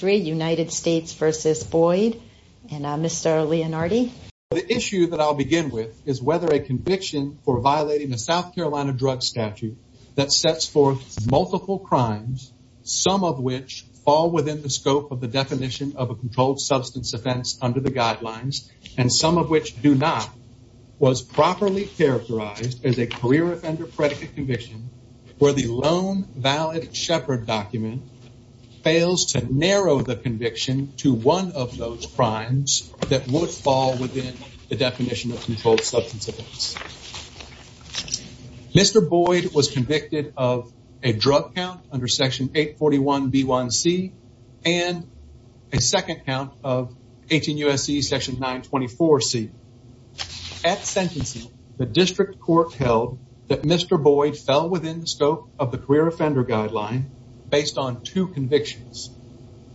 The issue that I'll begin with is whether a conviction for violating a South Carolina drug statute that sets forth multiple crimes, some of which fall within the scope of the definition of a controlled substance offense under the guidelines, and some of which do not, was properly characterized as a career offender predicate conviction where the loan valid shepherd document fails to narrow the conviction to one of those crimes that would fall within the definition of controlled substance offense. Mr. Boyd was convicted of a drug count under section 841 B1C and a second count of 18 U.S.C. section 924 C. At sentencing, the district court held that Mr. Boyd fell within the scope of the career offender guideline based on two convictions.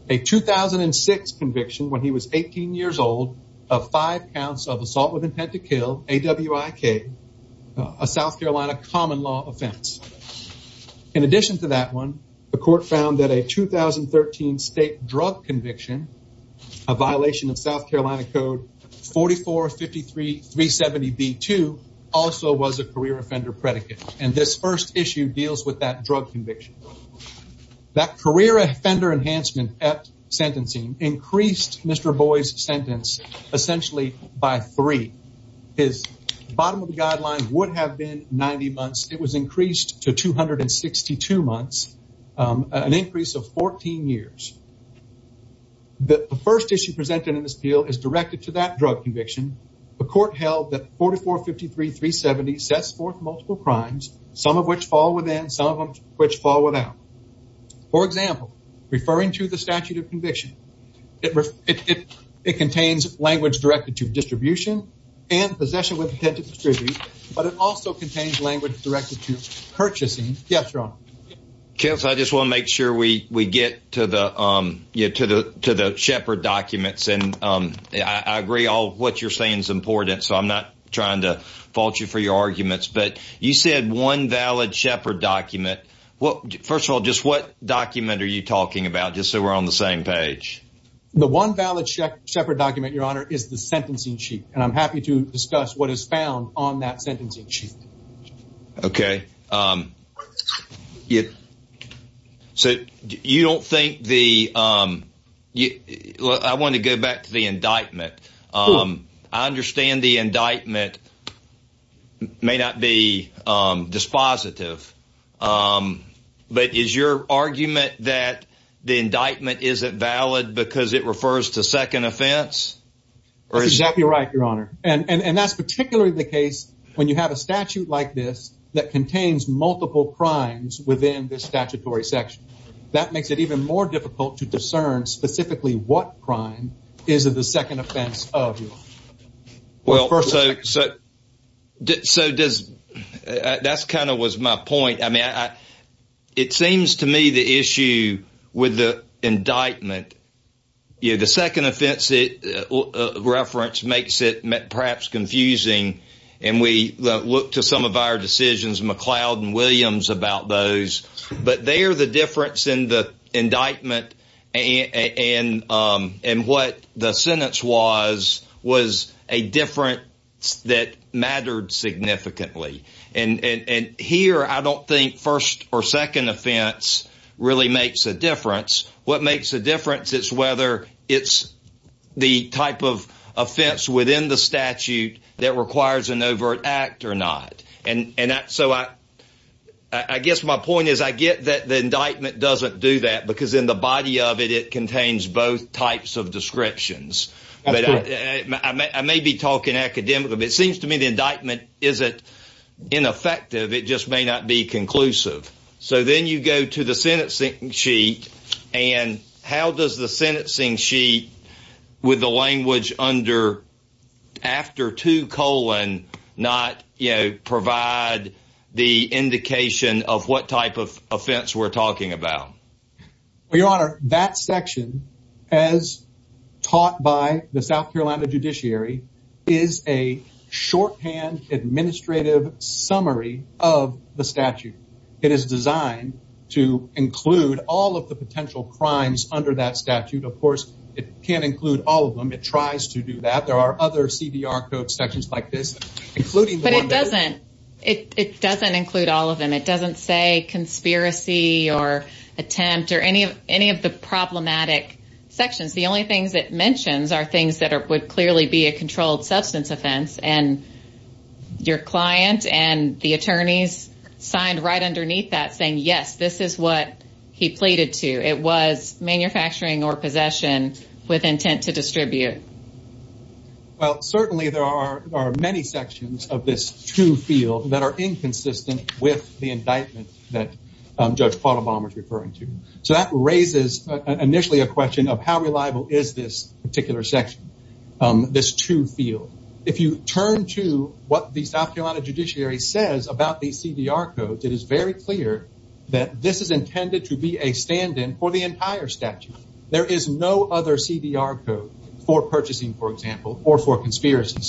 A 2006 conviction when he was 18 years old of five counts of assault with intent to kill, AWIK, a South Carolina common law offense. In addition to that one, the court found that a 2013 state drug conviction, a violation of South Carolina code 4453 370 B2, also was a career offender predicate. And this first issue deals with that drug conviction. That career offender enhancement at sentencing increased Mr. Boyd's sentence essentially by three. His bottom of the guideline would have been 90 months. It was increased to 262 months, an increase of 14 years. The first issue presented in this appeal is directed to that drug conviction. The court held that 4453 370 sets forth multiple crimes, some of which fall within, some of which fall without. For example, referring to the statute of conviction, it contains language directed to distribution and possession with intent to distribute, but it also contains language directed to purchasing. Yes, Your I agree all what you're saying is important, so I'm not trying to fault you for your arguments, but you said one valid shepherd document. Well, first of all, just what document are you talking about? Just so we're on the same page. The one valid check separate document, Your Honor, is the sentencing sheet, and I'm happy to discuss what is found on that sentencing sheet. Okay, so you don't think the, I want to go back to the indictment. I understand the indictment may not be dispositive, but is your argument that the indictment isn't valid because it refers to second offense? That's exactly right, Your Honor, and that's particularly the case when you have a statute like this that contains multiple crimes within the statutory section. That makes it even more difficult to discern specifically what crime is the second offense of, Your Honor. Well, first of all, so does, that kind of was my point. I mean, it seems to me the issue with the indictment, you know, the second offense reference makes it perhaps confusing, and we look to some of our decisions, McLeod and Williams, about those. But there, the difference in the indictment and what the sentence was, was a difference that mattered significantly. And here, I don't think first or second offense really makes a difference. What makes a difference is whether it's the type of offense within the statute that requires an overt act or not. And so I guess my point is I get that the indictment doesn't do that because in the body of it, it contains both types of descriptions. But I may be talking academically, but it seems to me the indictment isn't ineffective. It just may not be conclusive. So then you go to the sentencing sheet. And how does the sentencing sheet with the language under after two colon not, you know, provide the indication of what type of offense we're talking about? Your Honor, that section, as taught by the South Carolina judiciary, is a shorthand administrative summary of the statute. It is designed to include all of the potential crimes under that statute. Of course, it can't include all of them. It tries to do that. There are other CDR code sections like this, including But it doesn't. It doesn't include all of them. It doesn't say conspiracy or attempt or any of the problematic sections. The only things it mentions are things that would clearly be a controlled substance offense. And your client and the attorneys signed right underneath that, saying, yes, this is what he pleaded to. It was manufacturing or possession with intent to distribute. Well, certainly there are many sections of this true field that are inconsistent with the indictment that Judge Paul Obama is referring to. So that raises initially a question of how reliable is this particular section, this true field. If you turn to what the South Carolina judiciary says about the CDR codes, it is very clear that this is intended to be a stand in for the entire statute. There is no other CDR code for purchasing, for example, or for conspiracy.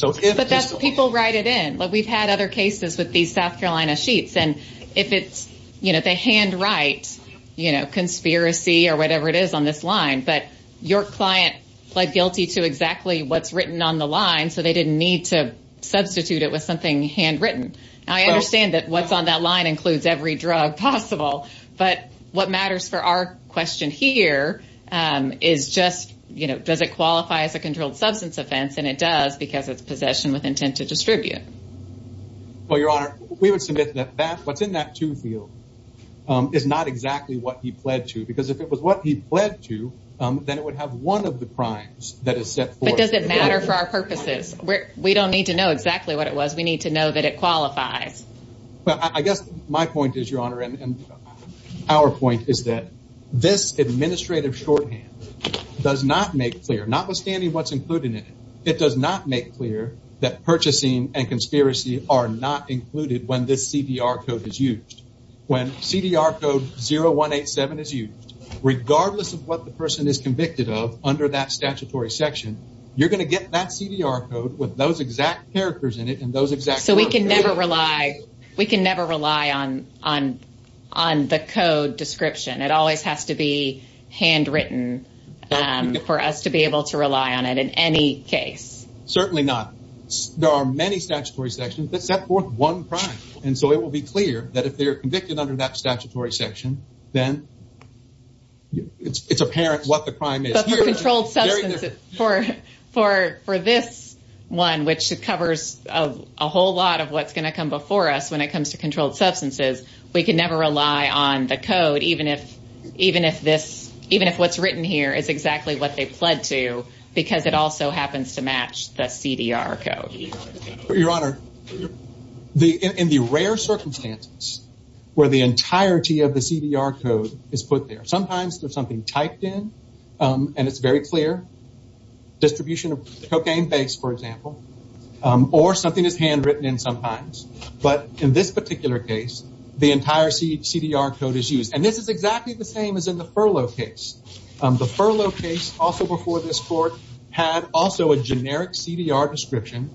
People write it in. We've had other cases with these South Carolina sheets. And if it's, you know, they hand write, you know, conspiracy or whatever it is on this line. But your client pled guilty to exactly what's written on the line. So they didn't need to substitute it with something handwritten. I understand that what's on that line includes every drug possible. But what matters for our question here is just, you know, does it qualify as a controlled substance offense? And it does because it's possession with intent to distribute. Well, Your Honor, we would submit that what's in that true field is not exactly what he pled to. Because if it was what he pled to, then it would have one of the crimes that is set forth. But does it matter for our purposes? We don't need to know exactly what it was. We need to know that it qualifies. Well, I guess my point is, Your Honor, and our point is that this administrative shorthand does not make clear, notwithstanding what's included in it, it does not make clear that purchasing and conspiracy are not included when this CDR code is used. When CDR code 0187 is used, regardless of what the person is convicted of under that statutory section, you're going to get that CDR code with those exact characters in it and those exact. So we can never rely. We can never rely on the code description. It always has to be handwritten for us to be able to rely on it in any case. Certainly not. There are many statutory sections that set forth one crime. And so it will be clear that if they're convicted under that statutory section, then it's apparent what the crime is. But for controlled substances, for this one, which covers a whole lot of what's going to come before us when it comes to controlled substances, I think what's written here is exactly what they pled to because it also happens to match the CDR code. Your Honor, in the rare circumstances where the entirety of the CDR code is put there, sometimes there's something typed in and it's very clear, distribution of cocaine base, for example, or something is handwritten in sometimes. But in this particular case, the entire CDR code is used. This is exactly the same as in the furlough case. The furlough case also before this court had also a generic CDR description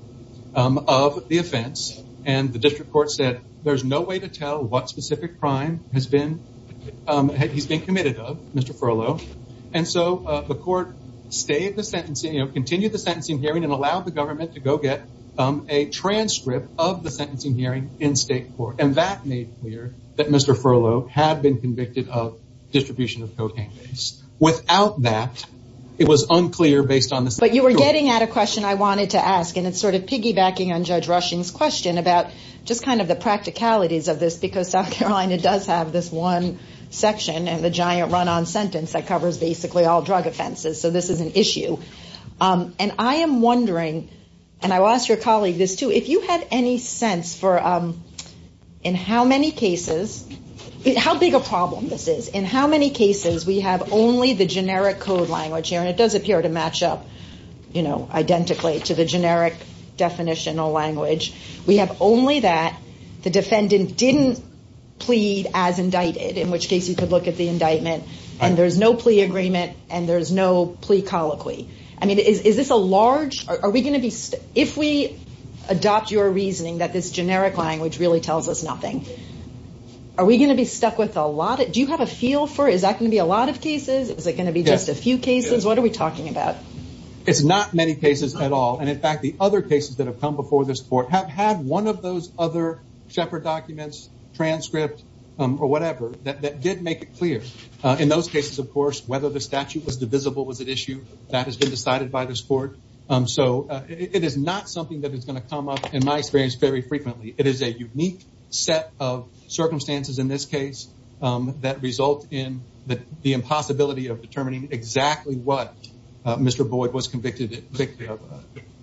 of the offense. And the district court said there's no way to tell what specific crime he's been committed of, Mr. Furlow. And so the court stayed the sentencing, continued the sentencing hearing and allowed the government to go get a transcript of the sentencing hearing in state court. And that made clear that Mr. Furlow had been convicted of distribution of cocaine base. Without that, it was unclear based on this. But you were getting at a question I wanted to ask. And it's sort of piggybacking on Judge Rushing's question about just kind of the practicalities of this, because South Carolina does have this one section and the giant run on sentence that covers basically all drug offenses. So this is an issue. And I am wondering, and I will ask your colleague this too, if you have any sense for in how many cases, how big a problem this is, in how many cases we have only the generic code language here, and it does appear to match up, you know, identically to the generic definitional language. We have only that the defendant didn't plead as indicted, in which case you could look at the indictment and there's no plea agreement and there's no plea colloquy. I mean, is this a large, are we going to be, if we adopt your reasoning that this generic language really tells us nothing, are we going to be stuck with a lot of, do you have a feel for, is that going to be a lot of cases? Is it going to be just a few cases? What are we talking about? It's not many cases at all. And in fact, the other cases that have come before this court have had one of those other Shepard documents, transcript or whatever that did make it clear. In those cases, of course, whether the statute was divisible was an issue that has been decided by this court. So it is not something that is going to come up, in my experience, very frequently. It is a unique set of circumstances in this case that result in the impossibility of determining exactly what Mr. Boyd was convicted of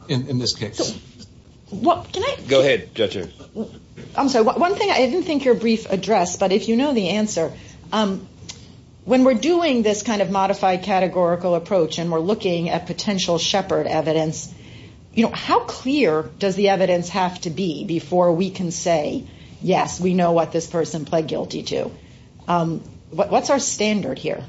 in this case. Go ahead, Judge. I'm sorry, one thing, I didn't think your brief address, but if you know the answer, when we're doing this modified categorical approach and we're looking at potential Shepard evidence, how clear does the evidence have to be before we can say, yes, we know what this person pled guilty to? What's our standard here?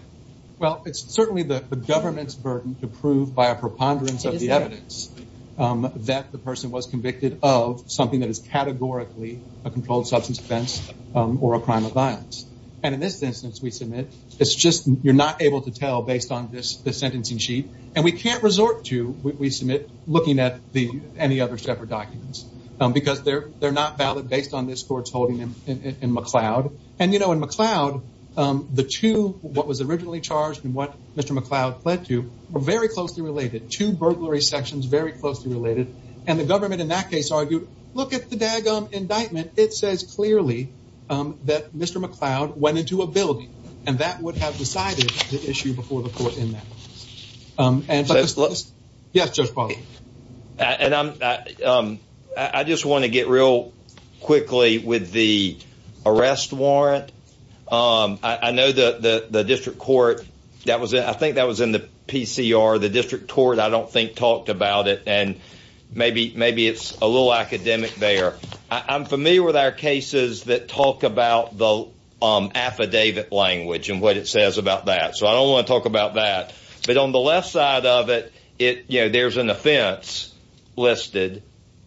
Well, it's certainly the government's burden to prove by a preponderance of the evidence that the person was convicted of something that is categorically a controlled substance offense or a crime of violence. And in this instance, we submit, it's just you're not able to tell based on this sentencing sheet. And we can't resort to, we submit, looking at any other Shepard documents, because they're not valid based on this court's holding in McLeod. And you know, in McLeod, the two, what was originally charged and what Mr. McLeod pled to were very closely related, two burglary sections very closely related. And the government in that case argued, look at the daggum indictment, it says clearly that Mr. McLeod went into a building, and that would have decided the issue before the court in that. And yes, Judge Paul. And I just want to get real quickly with the arrest warrant. I know that the district court, that was, I think that was in the PCR, the district court, I don't think talked about it. And maybe, maybe it's a little academic there. I'm familiar with our cases that talk about the affidavit language and what it says about that. So I don't want to talk about that. But on the left side of it, it, you know, there's an offense listed.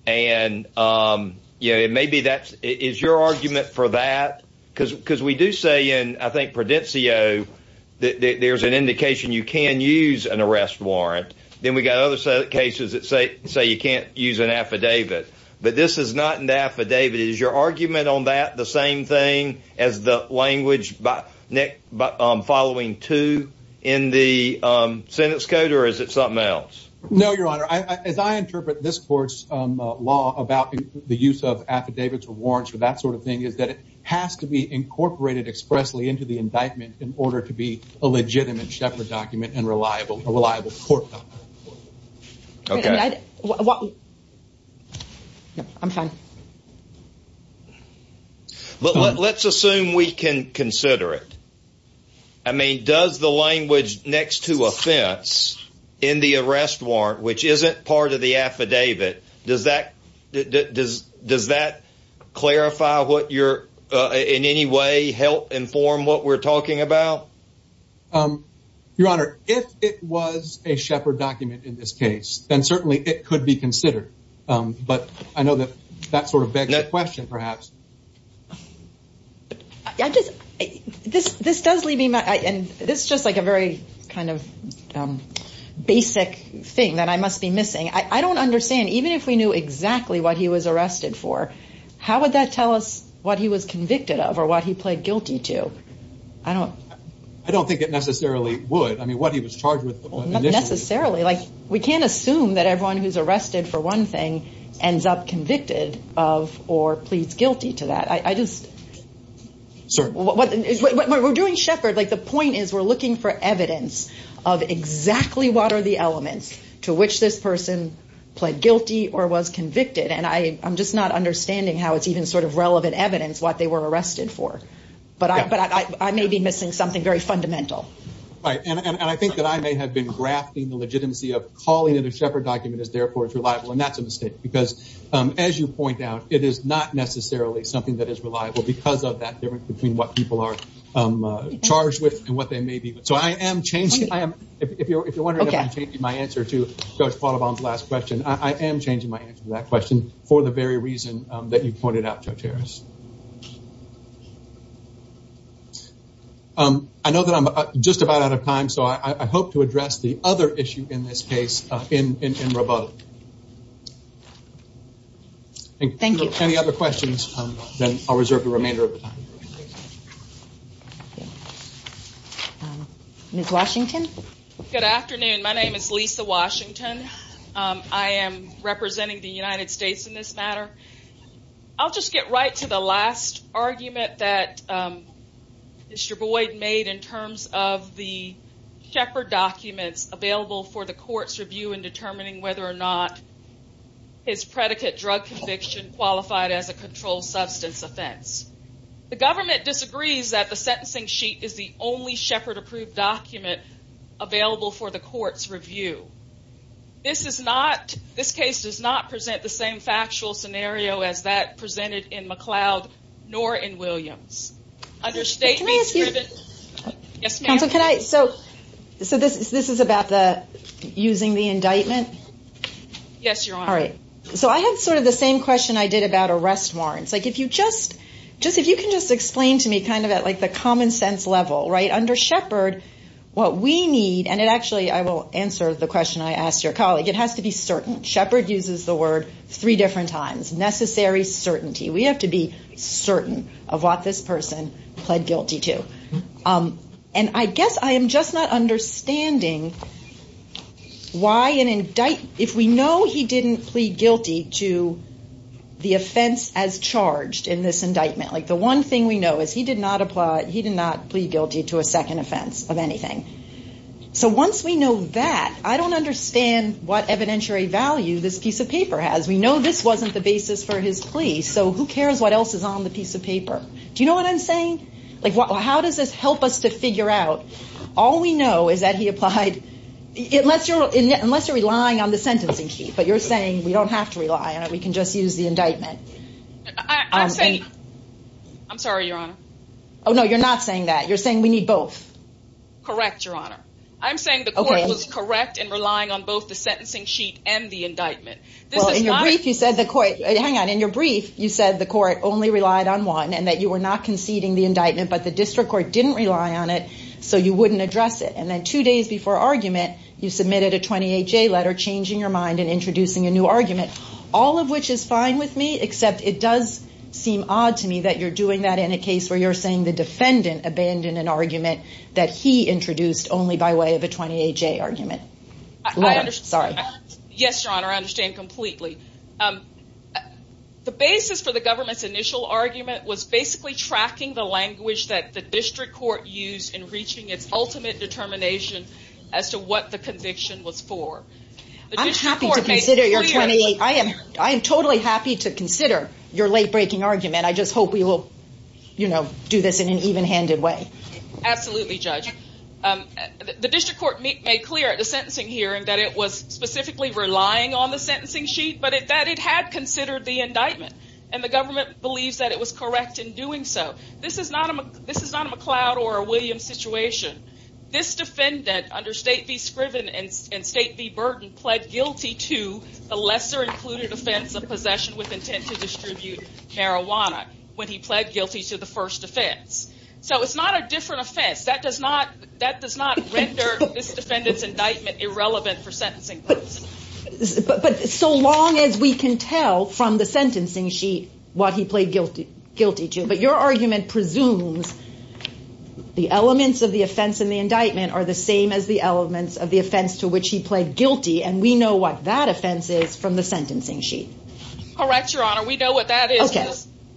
And, you know, maybe that is your argument for that. Because because we do say in I think Prudencio, that there's an indication you can use an arrest warrant, then we got other cases that say, say you can't use an affidavit. But this is not an affidavit. Is your argument on that the same thing as the language by following two in the sentence code? Or is it something else? No, Your Honor, as I interpret this court's law about the use of affidavits or warrants for that sort of thing is that it has to be incorporated expressly into the indictment in order to be a legitimate Shepherd document and reliable, reliable court. I'm fine. But let's assume we can consider it. I mean, does the language next to offense in the arrest warrant, which isn't part of the affidavit, does that does that clarify what you're in any way help inform what we're talking about? Your Honor, if it was a Shepherd document in this case, then certainly it could be considered. But I know that that sort of question, perhaps. But I just this this does leave me. And this is just like a very kind of basic thing that I must be missing. I don't understand. Even if we knew exactly what he was arrested for, how would that tell us what he was convicted of or what he pled guilty to? I don't I don't think it necessarily would. I mean, what he was charged with. Necessarily, like we can't assume that everyone who's arrested for one thing ends up convicted of or pleads guilty to that. I just. Sir, what we're doing, Shepherd, like the point is we're looking for evidence of exactly what are the elements to which this person pled guilty or was convicted. And I'm just not understanding how it's even sort of relevant evidence, what they were arrested for. But I may be missing something very fundamental. And I think that I may have been grafting the legitimacy of calling it a Shepherd document is therefore it's reliable. And that's a mistake, because as you point out, it is not necessarily something that is reliable because of that difference between what people are charged with and what they may be. So I am changing. I am if you're if you're wondering if I'm changing my answer to Judge Pahlabom's last question, I am changing my answer to that question for the very reason that you pointed out, Judge Harris. I know that I'm just about out of time, so I hope to address the other issue in this case in rebuttal. Thank you. Any other questions, then I'll reserve the remainder of the time. Ms. Washington. Good afternoon. My name is Lisa Washington. I am representing the United States in this matter. I'll just get right to the last argument that Mr. Boyd made in terms of the Shepherd documents available for the court's review in determining whether or not his predicate drug conviction qualified as a controlled substance offense. The government disagrees that the sentencing sheet is the only Shepherd approved document available for the court's review. This case does not present the same factual scenario as that of the Shepherd. So this is about the using the indictment? Yes, Your Honor. All right. So I have sort of the same question I did about arrest warrants. Like if you just just if you can just explain to me kind of at like the common sense level right under Shepherd, what we need and it actually I will answer the question I asked your colleague. It has to be certain. Shepherd uses the word three different times necessary certainty. We have to be certain of what this person pled guilty to. And I guess I am just not understanding why an indictment if we know he didn't plead guilty to the offense as charged in this indictment, like the one thing we know is he did not apply. He did not plead guilty to a second offense of anything. So once we know that, I don't understand what evidentiary value this piece of paper has. We know this wasn't the basis for his plea. So who cares what else is on the piece of paper? Do you know what I'm saying? Like, how does this help us to figure out? All we know is that he applied. Unless you're relying on the sentencing sheet, but you're saying we don't have to rely on it. We can just use the indictment. I'm sorry, Your Honor. Oh, no, you're not saying that. You're saying we need both. Correct, Your Honor. I'm saying the court was correct in relying on both the sentencing sheet and the indictment. Well, in your brief, you said the court, hang on, in your brief, you said the court only relied on one and that you were not conceding the indictment, but the district court didn't rely on it. So you wouldn't address it. And then two days before argument, you submitted a 28-J letter changing your mind and introducing a new argument, all of which is fine with me, except it does seem odd to me that you're doing that in a case where you're saying the defendant abandoned an argument that he introduced only by way of a 28-J argument. Yes, Your Honor, I understand completely. The basis for the government's initial argument was basically tracking the language that the district court used in reaching its ultimate determination as to what the conviction was for. I'm happy to consider your 28. I am totally happy to consider your late-breaking argument. I just hope we will do this in an even-handed way. Absolutely, Judge. The district court made clear at the sentencing hearing that it was specifically relying on the sentencing sheet, but that it had considered the indictment, and the government believes that it was correct in doing so. This is not a McLeod or a Williams situation. This defendant, under State v. Scriven and State v. Burton, pled guilty to the lesser included offense of possession with intent to distribute marijuana when he pled guilty to the first offense. So it's not a different offense. That does not render this defendant's indictment irrelevant for sentencing purposes. But so long as we can tell from the sentencing sheet what he pled guilty to. But your argument presumes the elements of the offense and the indictment are the same as the elements of the offense to which he pled guilty, and we know what that offense is from the sentencing sheet. Correct, Your Honor. We know what that is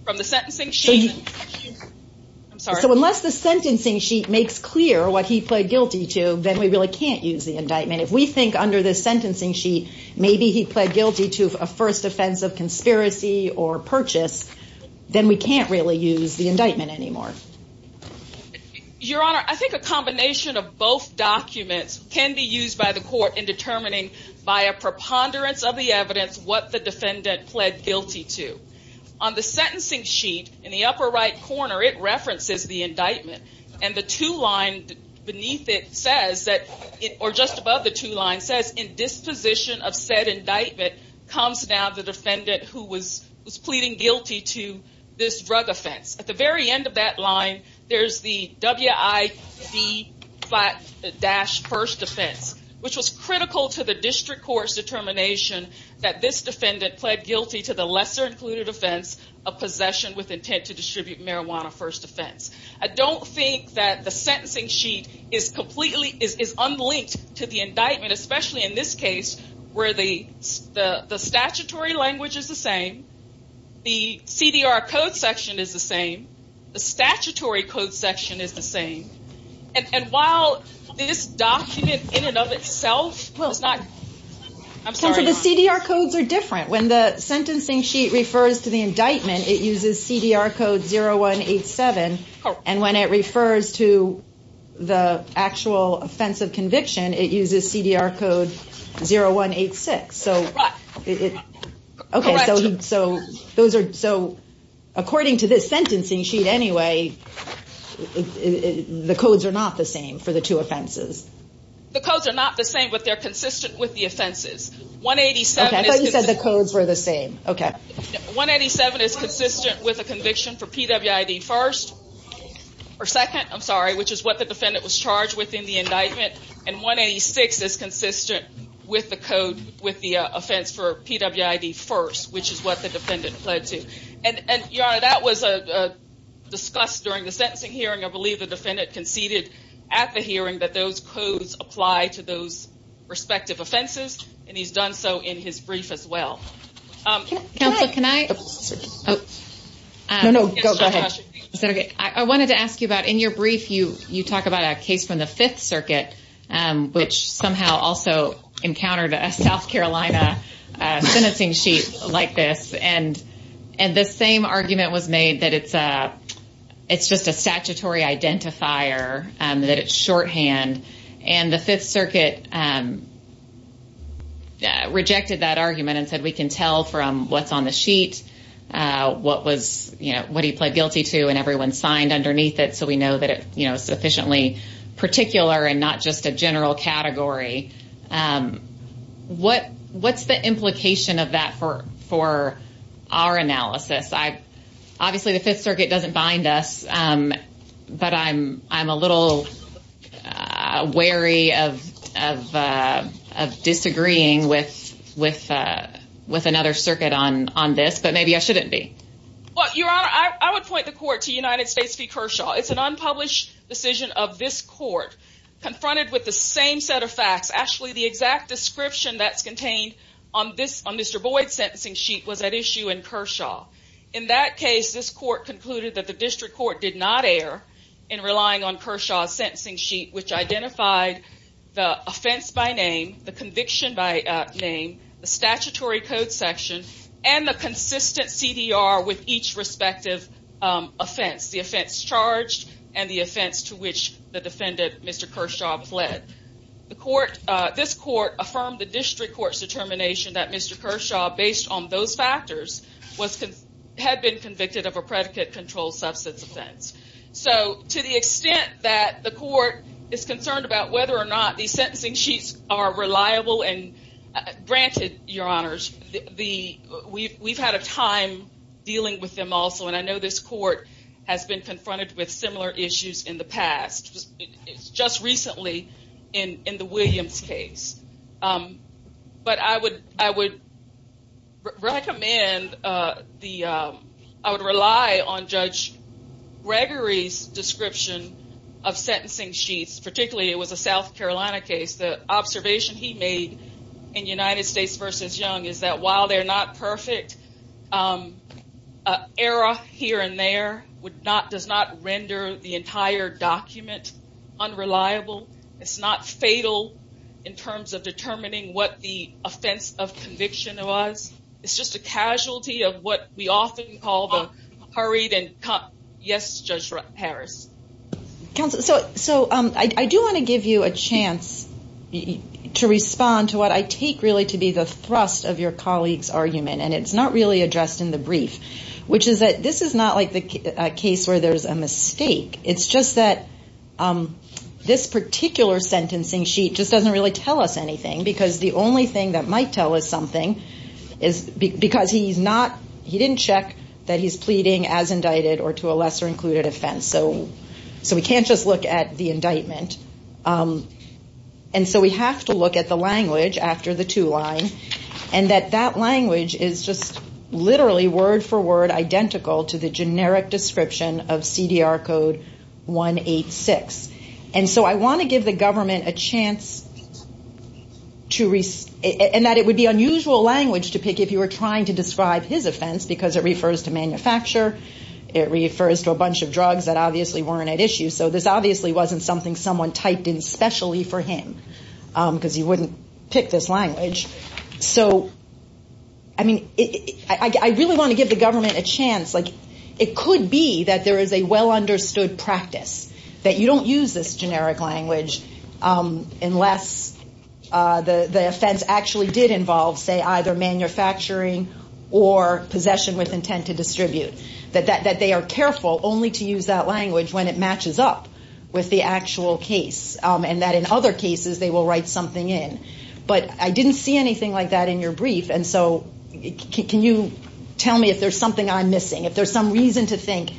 from the sentencing sheet. I'm sorry. So unless the sentencing sheet makes clear what he pled guilty to, then we really can't use the indictment. If we think under the sentencing sheet maybe he pled guilty to a first offense of conspiracy or purchase, then we can't really use the indictment anymore. Your Honor, I think a combination of both documents can be used by the court in determining by a preponderance of the indictment. And the two line beneath it says, or just above the two line says, in disposition of said indictment comes down the defendant who was pleading guilty to this drug offense. At the very end of that line, there's the WID-1st offense, which was critical to the district court's determination that this defendant pled guilty to the lesser included offense of possession with WID-1st offense. I don't think that the sentencing sheet is completely, is unlinked to the indictment, especially in this case where the statutory language is the same, the CDR code section is the same, the statutory code section is the same. And while this document in and of itself does not, I'm sorry. The CDR codes are different. When the sentencing sheet refers to the indictment, it uses CDR code 0187. And when it refers to the actual offense of conviction, it uses CDR code 0186. So, okay. So those are, so according to this sentencing sheet anyway, the codes are not the same for the two offenses. The codes are not the same, but they're consistent with the offenses. 187 is consistent with a conviction for PWID-1st, or second, I'm sorry, which is what the defendant was charged with in the indictment. And 186 is consistent with the code, with the offense for PWID-1st, which is what the defendant pled to. And Your Honor, that was discussed during the sentencing hearing. I believe the defendant conceded at the hearing that those offenses, and he's done so in his brief as well. Counsel, can I? No, no, go ahead. I wanted to ask you about, in your brief, you talk about a case from the Fifth Circuit, which somehow also encountered a South Carolina sentencing sheet like this. And the same argument was made that it's just a statutory identifier, that it's shorthand. And the Fifth Circuit rejected that argument and said, we can tell from what's on the sheet, what was, you know, what he pled guilty to, and everyone signed underneath it. So we know that it, you know, sufficiently particular and not just a general category. What's the implication of that for our analysis? Obviously, the Fifth Circuit doesn't bind us. But I'm a little wary of disagreeing with another circuit on this, but maybe I shouldn't be. Well, Your Honor, I would point the court to United States v. Kershaw. It's an unpublished decision of this court, confronted with the same set of facts. Actually, the exact description that's contained on Mr. Boyd's sentencing sheet was at issue in Kershaw. In that case, this court concluded that the district court did not err in relying on Kershaw's sentencing sheet, which identified the offense by name, the conviction by name, the statutory code section, and the consistent CDR with each respective offense, the offense charged and the offense to which the defendant, Mr. Kershaw, pled. This court affirmed the district court's determination that Mr. Kershaw, based on those factors, had been convicted of a predicate-controlled substance offense. So to the extent that the court is concerned about whether or not these sentencing sheets are reliable, and granted, Your Honors, we've had a time dealing with them also. And I would recommend, I would rely on Judge Gregory's description of sentencing sheets, particularly it was a South Carolina case. The observation he made in United States v. Young is that while they're not perfect, error here and there does not render the entire document unreliable. It's not fatal in terms of determining what the offense of conviction was. It's just a casualty of what we often call the hurried and yes, Judge Harris. Counsel, so I do want to give you a chance to respond to what I take really to be the thrust of your colleague's argument. And it's not really addressed in the brief, which is that this is not the case where there's a mistake. It's just that this particular sentencing sheet just doesn't really tell us anything because the only thing that might tell us something is because he's not, he didn't check that he's pleading as indicted or to a lesser included offense. So we can't just look at the indictment. And so we have to look at the language after the two line and that that language is just of CDR code 186. And so I want to give the government a chance to, and that it would be unusual language to pick if you were trying to describe his offense because it refers to manufacture. It refers to a bunch of drugs that obviously weren't at issue. So this obviously wasn't something someone typed in specially for him because he wouldn't pick this language. So I mean, I really want to give the government a chance. Like it could be that there is a well understood practice that you don't use this generic language unless the offense actually did involve say either manufacturing or possession with intent to distribute. That they are careful only to use that language when it matches up with the actual case. And that in other cases, they will write something in, but I didn't see anything like that in your brief. And so can you tell me if there's something I'm missing, if there's some reason to think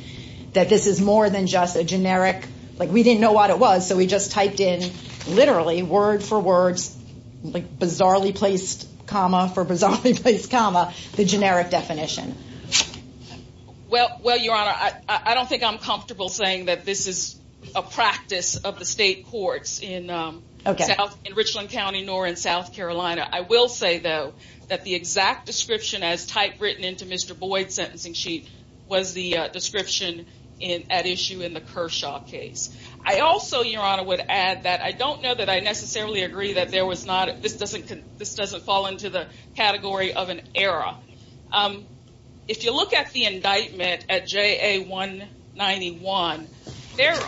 that this is more than just a generic, like we didn't know what it was. So we just typed in literally word for words, like bizarrely placed comma for bizarrely placed comma, the generic definition. Well, your honor, I don't think I'm comfortable saying that this is a practice of the state courts in Richland County nor in South Carolina. I will say, though, that the exact description as type written into Mr. Boyd's sentencing sheet was the description at issue in the Kershaw case. I also, your honor, would add that I don't know that I necessarily agree that there was not, this doesn't fall into the category of an error. Now, if you look at the indictment at JA191, there's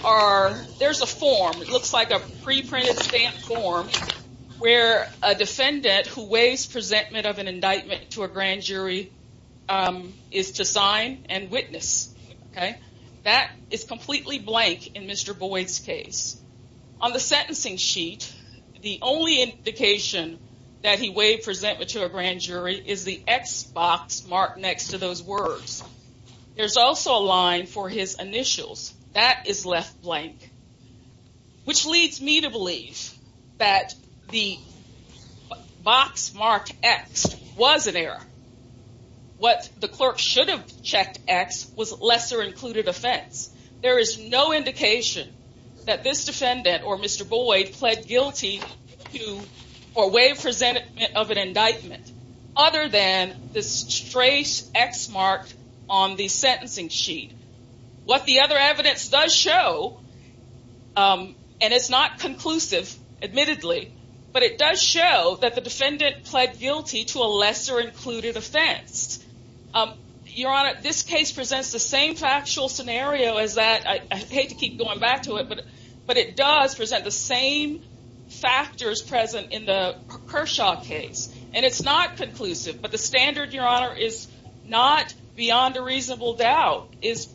a form. It looks like a pre-printed stamp form where a defendant who waives presentment of an indictment to a grand jury is to sign and witness. That is completely blank in Mr. Boyd's case. On the sentencing sheet, the only indication that he waived presentment to a grand jury is the X box marked next to those words. There's also a line for his initials. That is left blank, which leads me to believe that the box marked X was an error. What the clerk should have checked X was lesser included offense. There is no indication that this defendant or Mr. Boyd pled guilty to or waive presentment of an indictment other than this trace X marked on the sentencing sheet. What the other evidence does show, and it's not conclusive admittedly, but it does show that the defendant pled guilty to a lesser included offense. Your honor, this case presents the same factual scenario as that. I hate to keep going back to it, but it does present the same factors present in the Kershaw case. It's not conclusive, but the standard, your honor, is not beyond a reasonable doubt. It's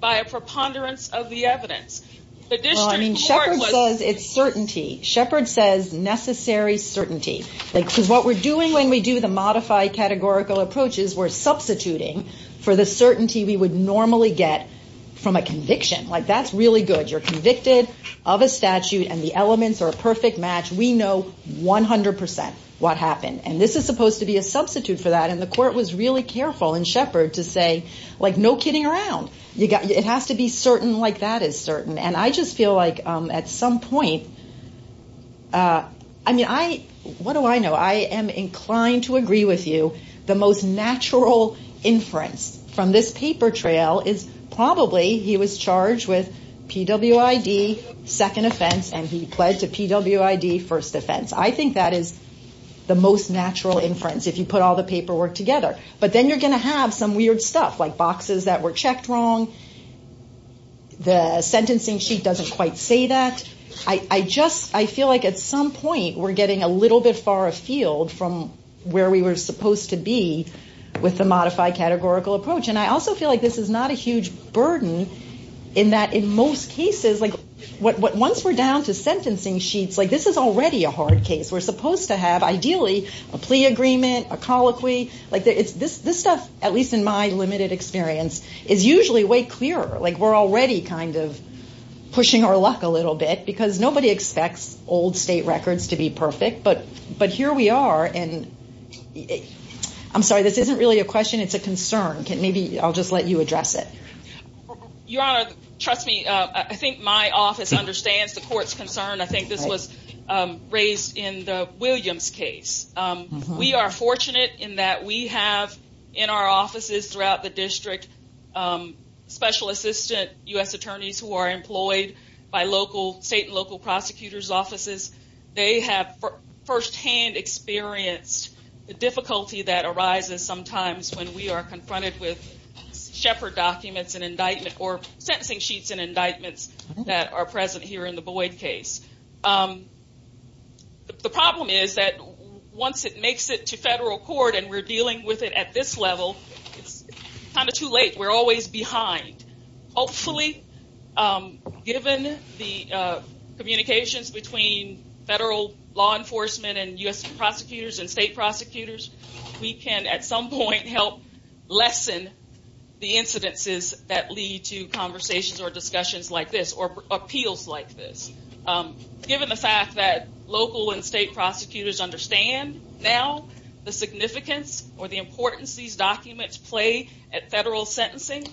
by a preponderance of the evidence. The district court was- Shepherd says it's certainty. Shepherd says necessary certainty. Because what we're doing when we do the modified categorical approaches, we're substituting for the certainty we would normally get from a conviction. That's really good. You're convicted of a statute and the elements are a perfect match. We know 100% what happened. This is supposed to be a substitute for that. The court was really careful in Shepherd to say, no kidding around. It has to be certain like that is certain. And I just feel like at some point, I mean, what do I know? I am inclined to agree with you. The most natural inference from this paper trail is probably he was charged with PWID second offense and he pled to PWID first offense. I think that is the most natural inference if you put all the paperwork together. But then you're going to have some weird stuff like boxes that were checked wrong. The sentencing sheet doesn't quite say that. I just, I feel like at some point we're getting a little bit far afield from where we were supposed to be with the modified categorical approach. And I also feel like this is not a huge burden in that in most cases, like once we're down to sentencing sheets, like this is already a hard case. We're supposed to have ideally a plea agreement, a colloquy. This stuff, at least in my limited experience, is usually way clearer. We're already kind of pushing our luck a little bit because nobody expects old state records to be perfect. But here we are and I'm sorry, this isn't really a question. It's a concern. Maybe I'll just let you address it. Your Honor, trust me. I think my office understands the court's concern. I think this was raised in the Williams case. We are fortunate in that we have in our offices throughout the district, special assistant U.S. attorneys who are employed by local, state and local prosecutor's offices. They have firsthand experienced the difficulty that arises sometimes when we are confronted with Shepard documents and indictment or sentencing sheets and indictments that are present here in the Boyd case. The problem is that once it makes it to federal court and we're dealing with it at this level, it's kind of too late. We're always behind. Hopefully, given the communications between federal law enforcement and U.S. prosecutors and state prosecutors, we can at some point help lessen the incidences that lead to conversations or discussions like this or appeals like this. Given the fact that local and state prosecutors understand now the significance or the importance these documents play at federal sentencing,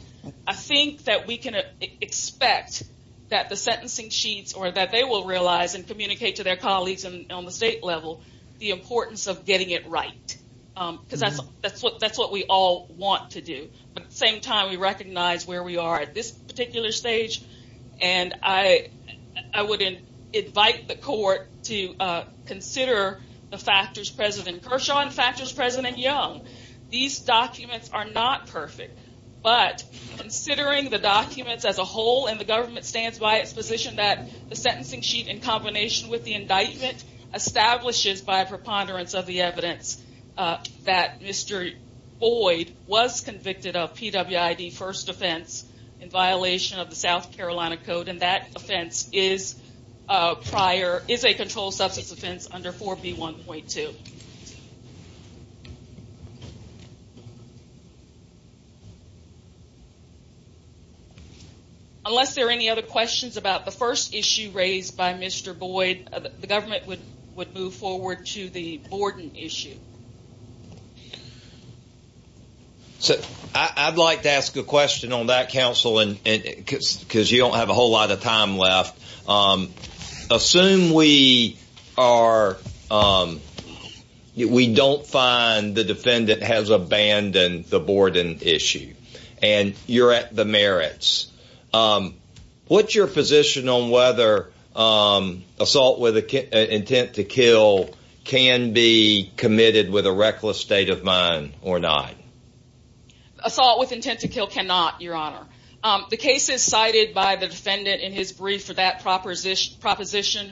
I think that we can expect that the sentencing sheets or that they will realize and communicate to their colleagues on the state level the importance of getting it right. Because that's what we all want to do. But at the same time, we recognize where we are at this particular stage. And I would invite the court to consider the factors present in Kershaw and factors present in Young. These documents are not perfect, but considering the documents as a whole and the government stands by its position that the sentencing sheet in combination with the indictment establishes by preponderance of the evidence that Mr. Boyd was convicted of PWID first offense in violation of the South Carolina Code and that offense is a controlled substance offense under 4B1.2. Unless there are any other questions about the first issue raised by Mr. Boyd, the government would move forward to the Borden issue. So I'd like to ask a question on that, counsel, because you don't have a whole lot of time left. Assume we don't find the defendant has abandoned the Borden issue and you're at the merits. What's your position on whether assault with intent to kill can be committed with a reckless state of mind or not? Assault with intent to kill cannot, your honor. The case is cited by the defendant in his brief for that proposition.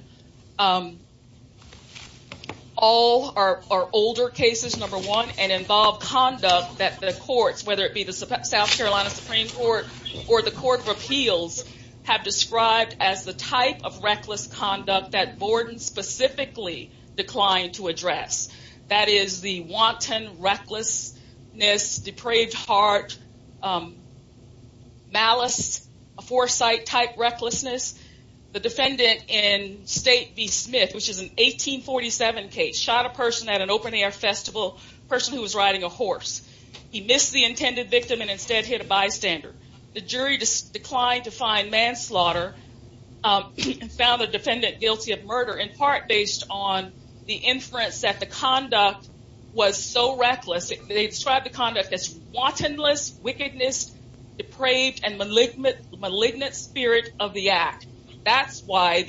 All are older cases, number one, and involve conduct that the courts, whether it be the South Carolina Supreme Court or the Court of Appeals, have described as the type of reckless conduct that Borden specifically declined to address. That is the wanton recklessness, depraved heart, malice, a foresight type recklessness. The defendant in State v. Smith, which is an 1847 case, shot a person at an open air festival, a person who was riding a horse. He missed the intended victim and instead hit a bystander. The jury declined to find manslaughter and found the defendant guilty of murder in part based on the inference that the conduct was so reckless. They described the conduct as wantonness, wickedness, depraved, and malignant spirit of the act. That's why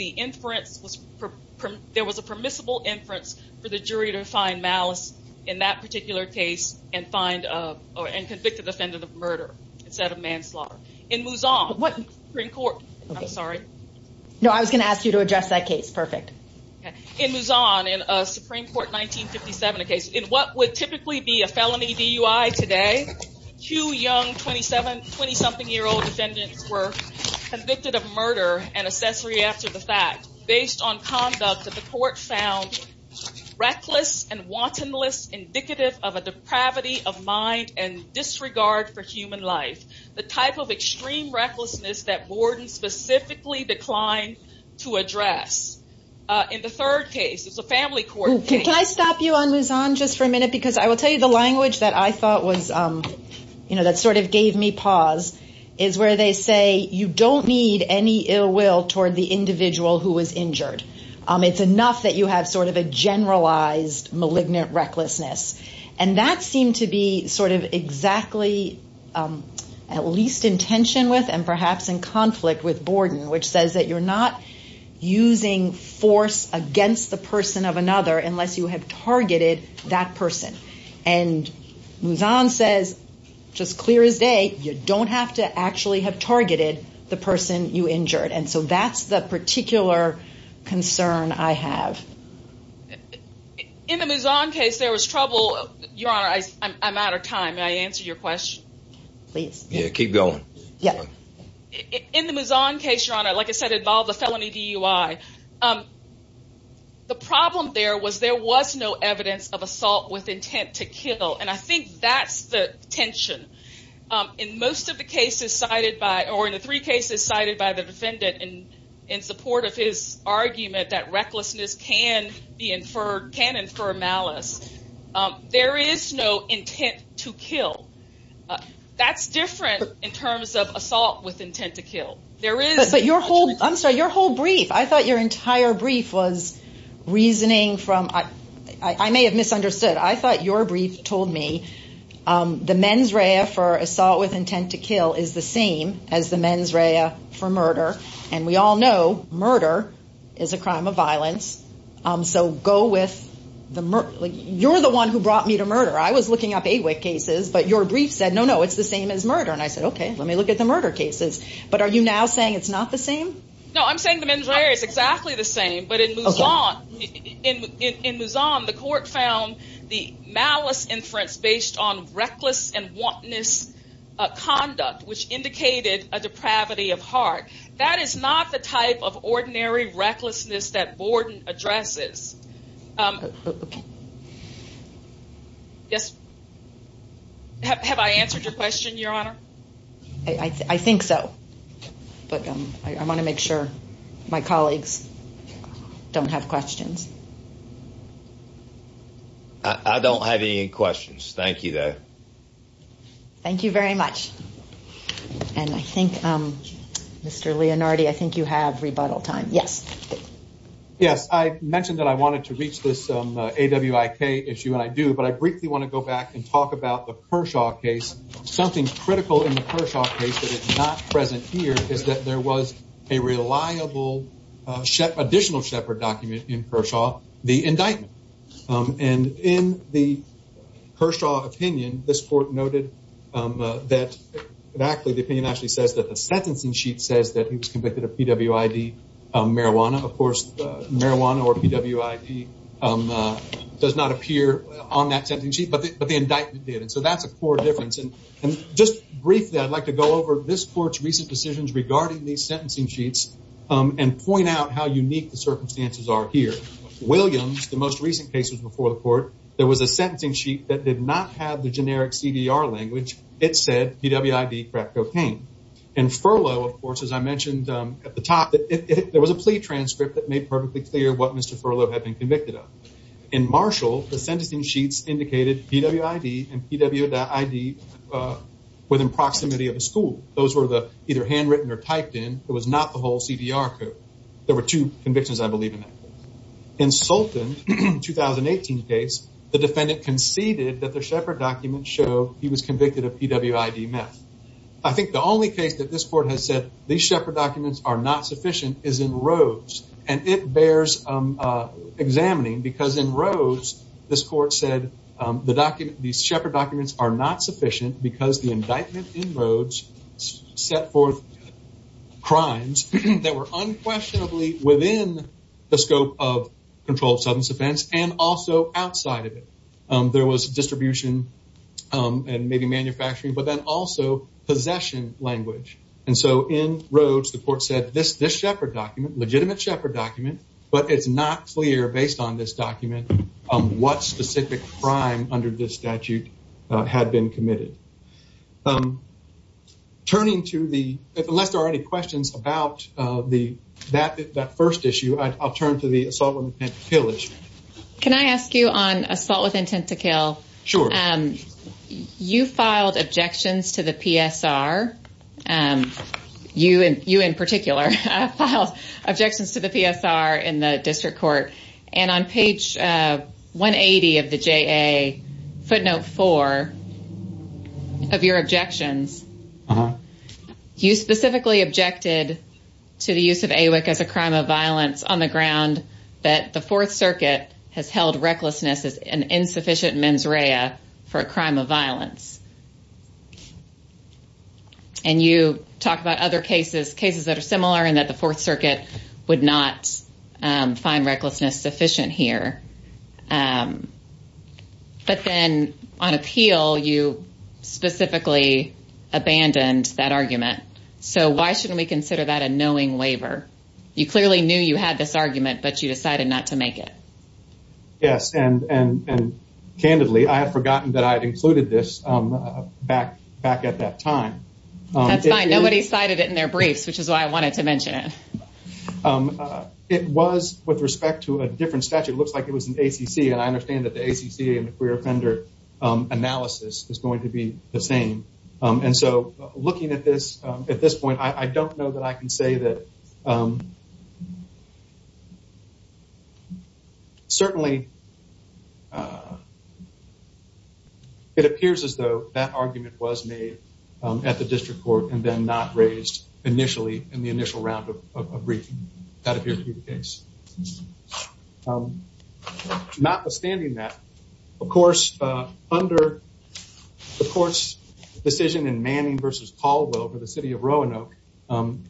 there was a permissible inference for the jury to find malice in that particular case and convict the defendant of murder instead of manslaughter. In Mouzon, in a Supreme Court 1957 case, in what would typically be a felony DUI today, two young 20-something year old defendants were convicted of murder and accessory after the Supreme Court found reckless and wantonness indicative of a depravity of mind and disregard for human life. The type of extreme recklessness that Borden specifically declined to address. In the third case, it's a family court case. Can I stop you on Mouzon just for a minute? Because I will tell you the language that I thought was, you know, that sort of gave me pause is where they say you don't need any ill will toward the individual who was injured. It's enough that you have sort of a generalized malignant recklessness. And that seemed to be sort of exactly at least in tension with and perhaps in conflict with Borden, which says that you're not using force against the person of another unless you have targeted that person. And Mouzon says, just clear as day, you don't have to actually have targeted the person you have. In the Mouzon case, there was trouble. Your Honor, I'm out of time. May I answer your question? Please. Yeah, keep going. Yeah. In the Mouzon case, Your Honor, like I said, involved a felony DUI. The problem there was there was no evidence of assault with intent to kill. And I think that's the tension in most of the cases cited by or in the three cases cited by the defendant in support of his argument that recklessness can infer malice. There is no intent to kill. That's different in terms of assault with intent to kill. But your whole, I'm sorry, your whole brief, I thought your entire brief was reasoning from, I may have misunderstood, I thought your brief told me the mens rea for assault with intent to kill is the same as the mens rea for murder. And we all know murder is a crime of violence. So go with the, you're the one who brought me to murder. I was looking up AWIC cases, but your brief said, no, no, it's the same as murder. And I said, okay, let me look at the murder cases. But are you now saying it's not the same? No, I'm saying the mens rea is exactly the same. But in Mouzon, in Mouzon, the court found the malice inference based on reckless and wantonness conduct, which indicated a depravity of heart. That is not the type of ordinary recklessness that Borden addresses. Yes. Have I answered your question, Your Honor? I think so. But I want to make sure my colleagues don't have questions. I don't have any questions. Thank you, though. Thank you very much. And I think, Mr. Leonardi, I think you have rebuttal time. Yes. Yes. I mentioned that I wanted to reach this AWIC issue, and I do. But I briefly want to go back and talk about the Kershaw case. Something critical in the Kershaw case that is not present here is that there was a reliable additional Shepard document in Kershaw, the indictment. And in the Kershaw opinion, this court noted that the opinion actually says that the sentencing sheet says that he was convicted of PWID marijuana. Of course, marijuana or PWID does not appear on that sentencing sheet, but the indictment did. And so that's a core difference. And just briefly, I'd like to go over this court's recent decisions regarding these sentencing sheets and point out how unique the circumstances are here. Williams, the most recent case was before the court. There was a sentencing sheet that did not have the generic CDR language. It said PWID crack cocaine. And Furlow, of course, as I mentioned at the top, there was a plea transcript that made perfectly clear what Mr. Furlow had been convicted of. In Marshall, the sentencing sheets indicated PWID and PW.ID within proximity of a school. Those were either handwritten or CDR code. There were two convictions, I believe. In Sultan, the 2018 case, the defendant conceded that the Shepard document showed he was convicted of PWID meth. I think the only case that this court has said these Shepard documents are not sufficient is in Rhodes. And it bears examining because in Rhodes, this court said the Shepard documents are not sufficient because the indictment in Rhodes set forth crimes that were unquestionably within the scope of controlled substance offense and also outside of it. There was distribution and maybe manufacturing, but then also possession language. And so in Rhodes, the court said this Shepard document, legitimate Shepard document, but it's not clear based on this document what specific crime under this statute had been committed. Turning to the, unless there are any questions about that first issue, I'll turn to the assault with intent to kill issue. Can I ask you on assault with intent to kill? Sure. You filed objections to the PSR, you in particular, filed objections to the PSR in the 2004 of your objections. You specifically objected to the use of AWIC as a crime of violence on the ground that the Fourth Circuit has held recklessness as an insufficient mens rea for a crime of violence. And you talk about other cases, cases that are similar and that the Fourth Circuit would not find recklessness sufficient here. But then on appeal, you specifically abandoned that argument. So why shouldn't we consider that a knowing waiver? You clearly knew you had this argument, but you decided not to make it. Yes, and candidly, I had forgotten that I had included this back at that time. That's fine. Nobody cited it in their briefs, which is why I wanted to mention it. It was with respect to a different statute. It looks like it was an ACC. And I understand that the ACC and the queer offender analysis is going to be the same. And so looking at this, at this point, I don't know that I can say that. Certainly, it appears as though that argument was made at the district court and then not raised initially in the initial round of briefing. That appears to be the case. Notwithstanding that, of course, under the court's decision in Manning v. Caldwell for the city of Roanoke,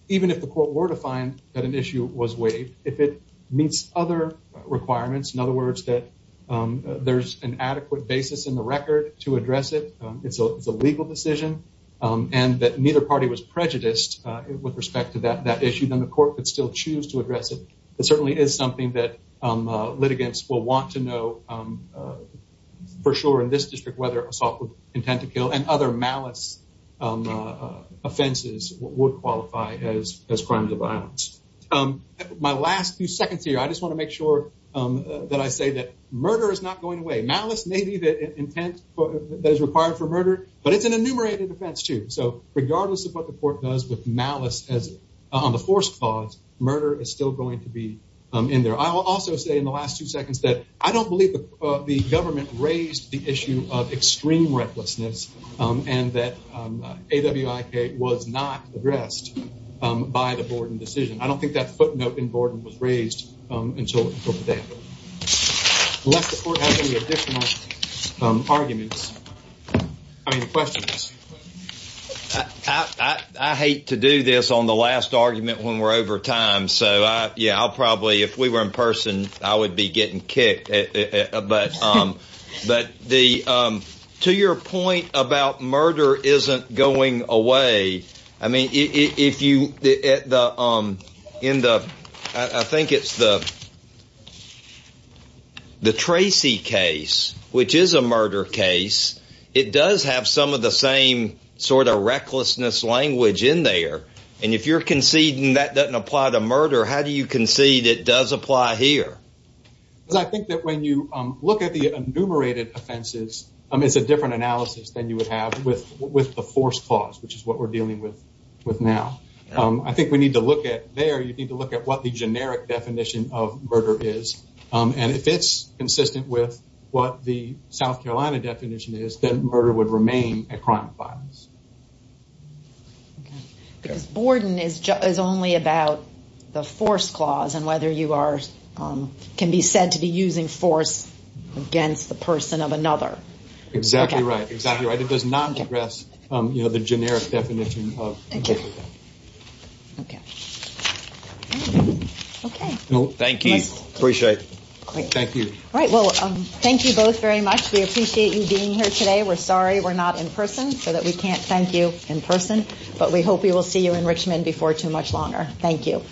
even if the court were to find that an issue was waived, if it meets other requirements, in other words, that there's an adequate basis in the record to address it, it's a legal decision, and that neither party was that issue, then the court could still choose to address it. It certainly is something that litigants will want to know for sure in this district whether assault with intent to kill and other malice offenses would qualify as crimes of violence. My last few seconds here, I just want to make sure that I say that murder is not going away. Malice may be the intent that is required for murder, but it's an enumerated offense, too. So regardless of what the court does with malice on the force clause, murder is still going to be in there. I will also say in the last two seconds that I don't believe the government raised the issue of extreme recklessness and that AWIK was not addressed by the Borden decision. I don't think that footnote in Borden was raised until today. Unless the court has any additional arguments, I mean questions. I hate to do this on the last argument when we're over time, so I'll probably, if we were in person, I would be getting kicked. But to your point about murder isn't going away, I mean if you, in the, I think it's the Tracy case, which is a murder case, it does have some of the same sort of recklessness language in there. And if you're conceding that doesn't apply to murder, how do you concede it does apply here? Because I think that when you look at the enumerated offenses, it's a different analysis than you would have with the force clause, which is what we're dealing with now. I think we need to look at there, you need to look at what the generic definition of murder is. And if it's consistent with what the South Carolina definition is, then murder would remain a crime of violence. Because Borden is only about the force clause and whether you are, can be said to be using force against the person of another. Exactly right, exactly right. It does not address the generic definition of murder. Okay. Thank you. Appreciate it. Thank you. All right. Well, thank you both very much. We appreciate you being here today. We're sorry we're not in person so that we can't thank you in person, but we hope we will see you in Richmond before too much longer. Thank you.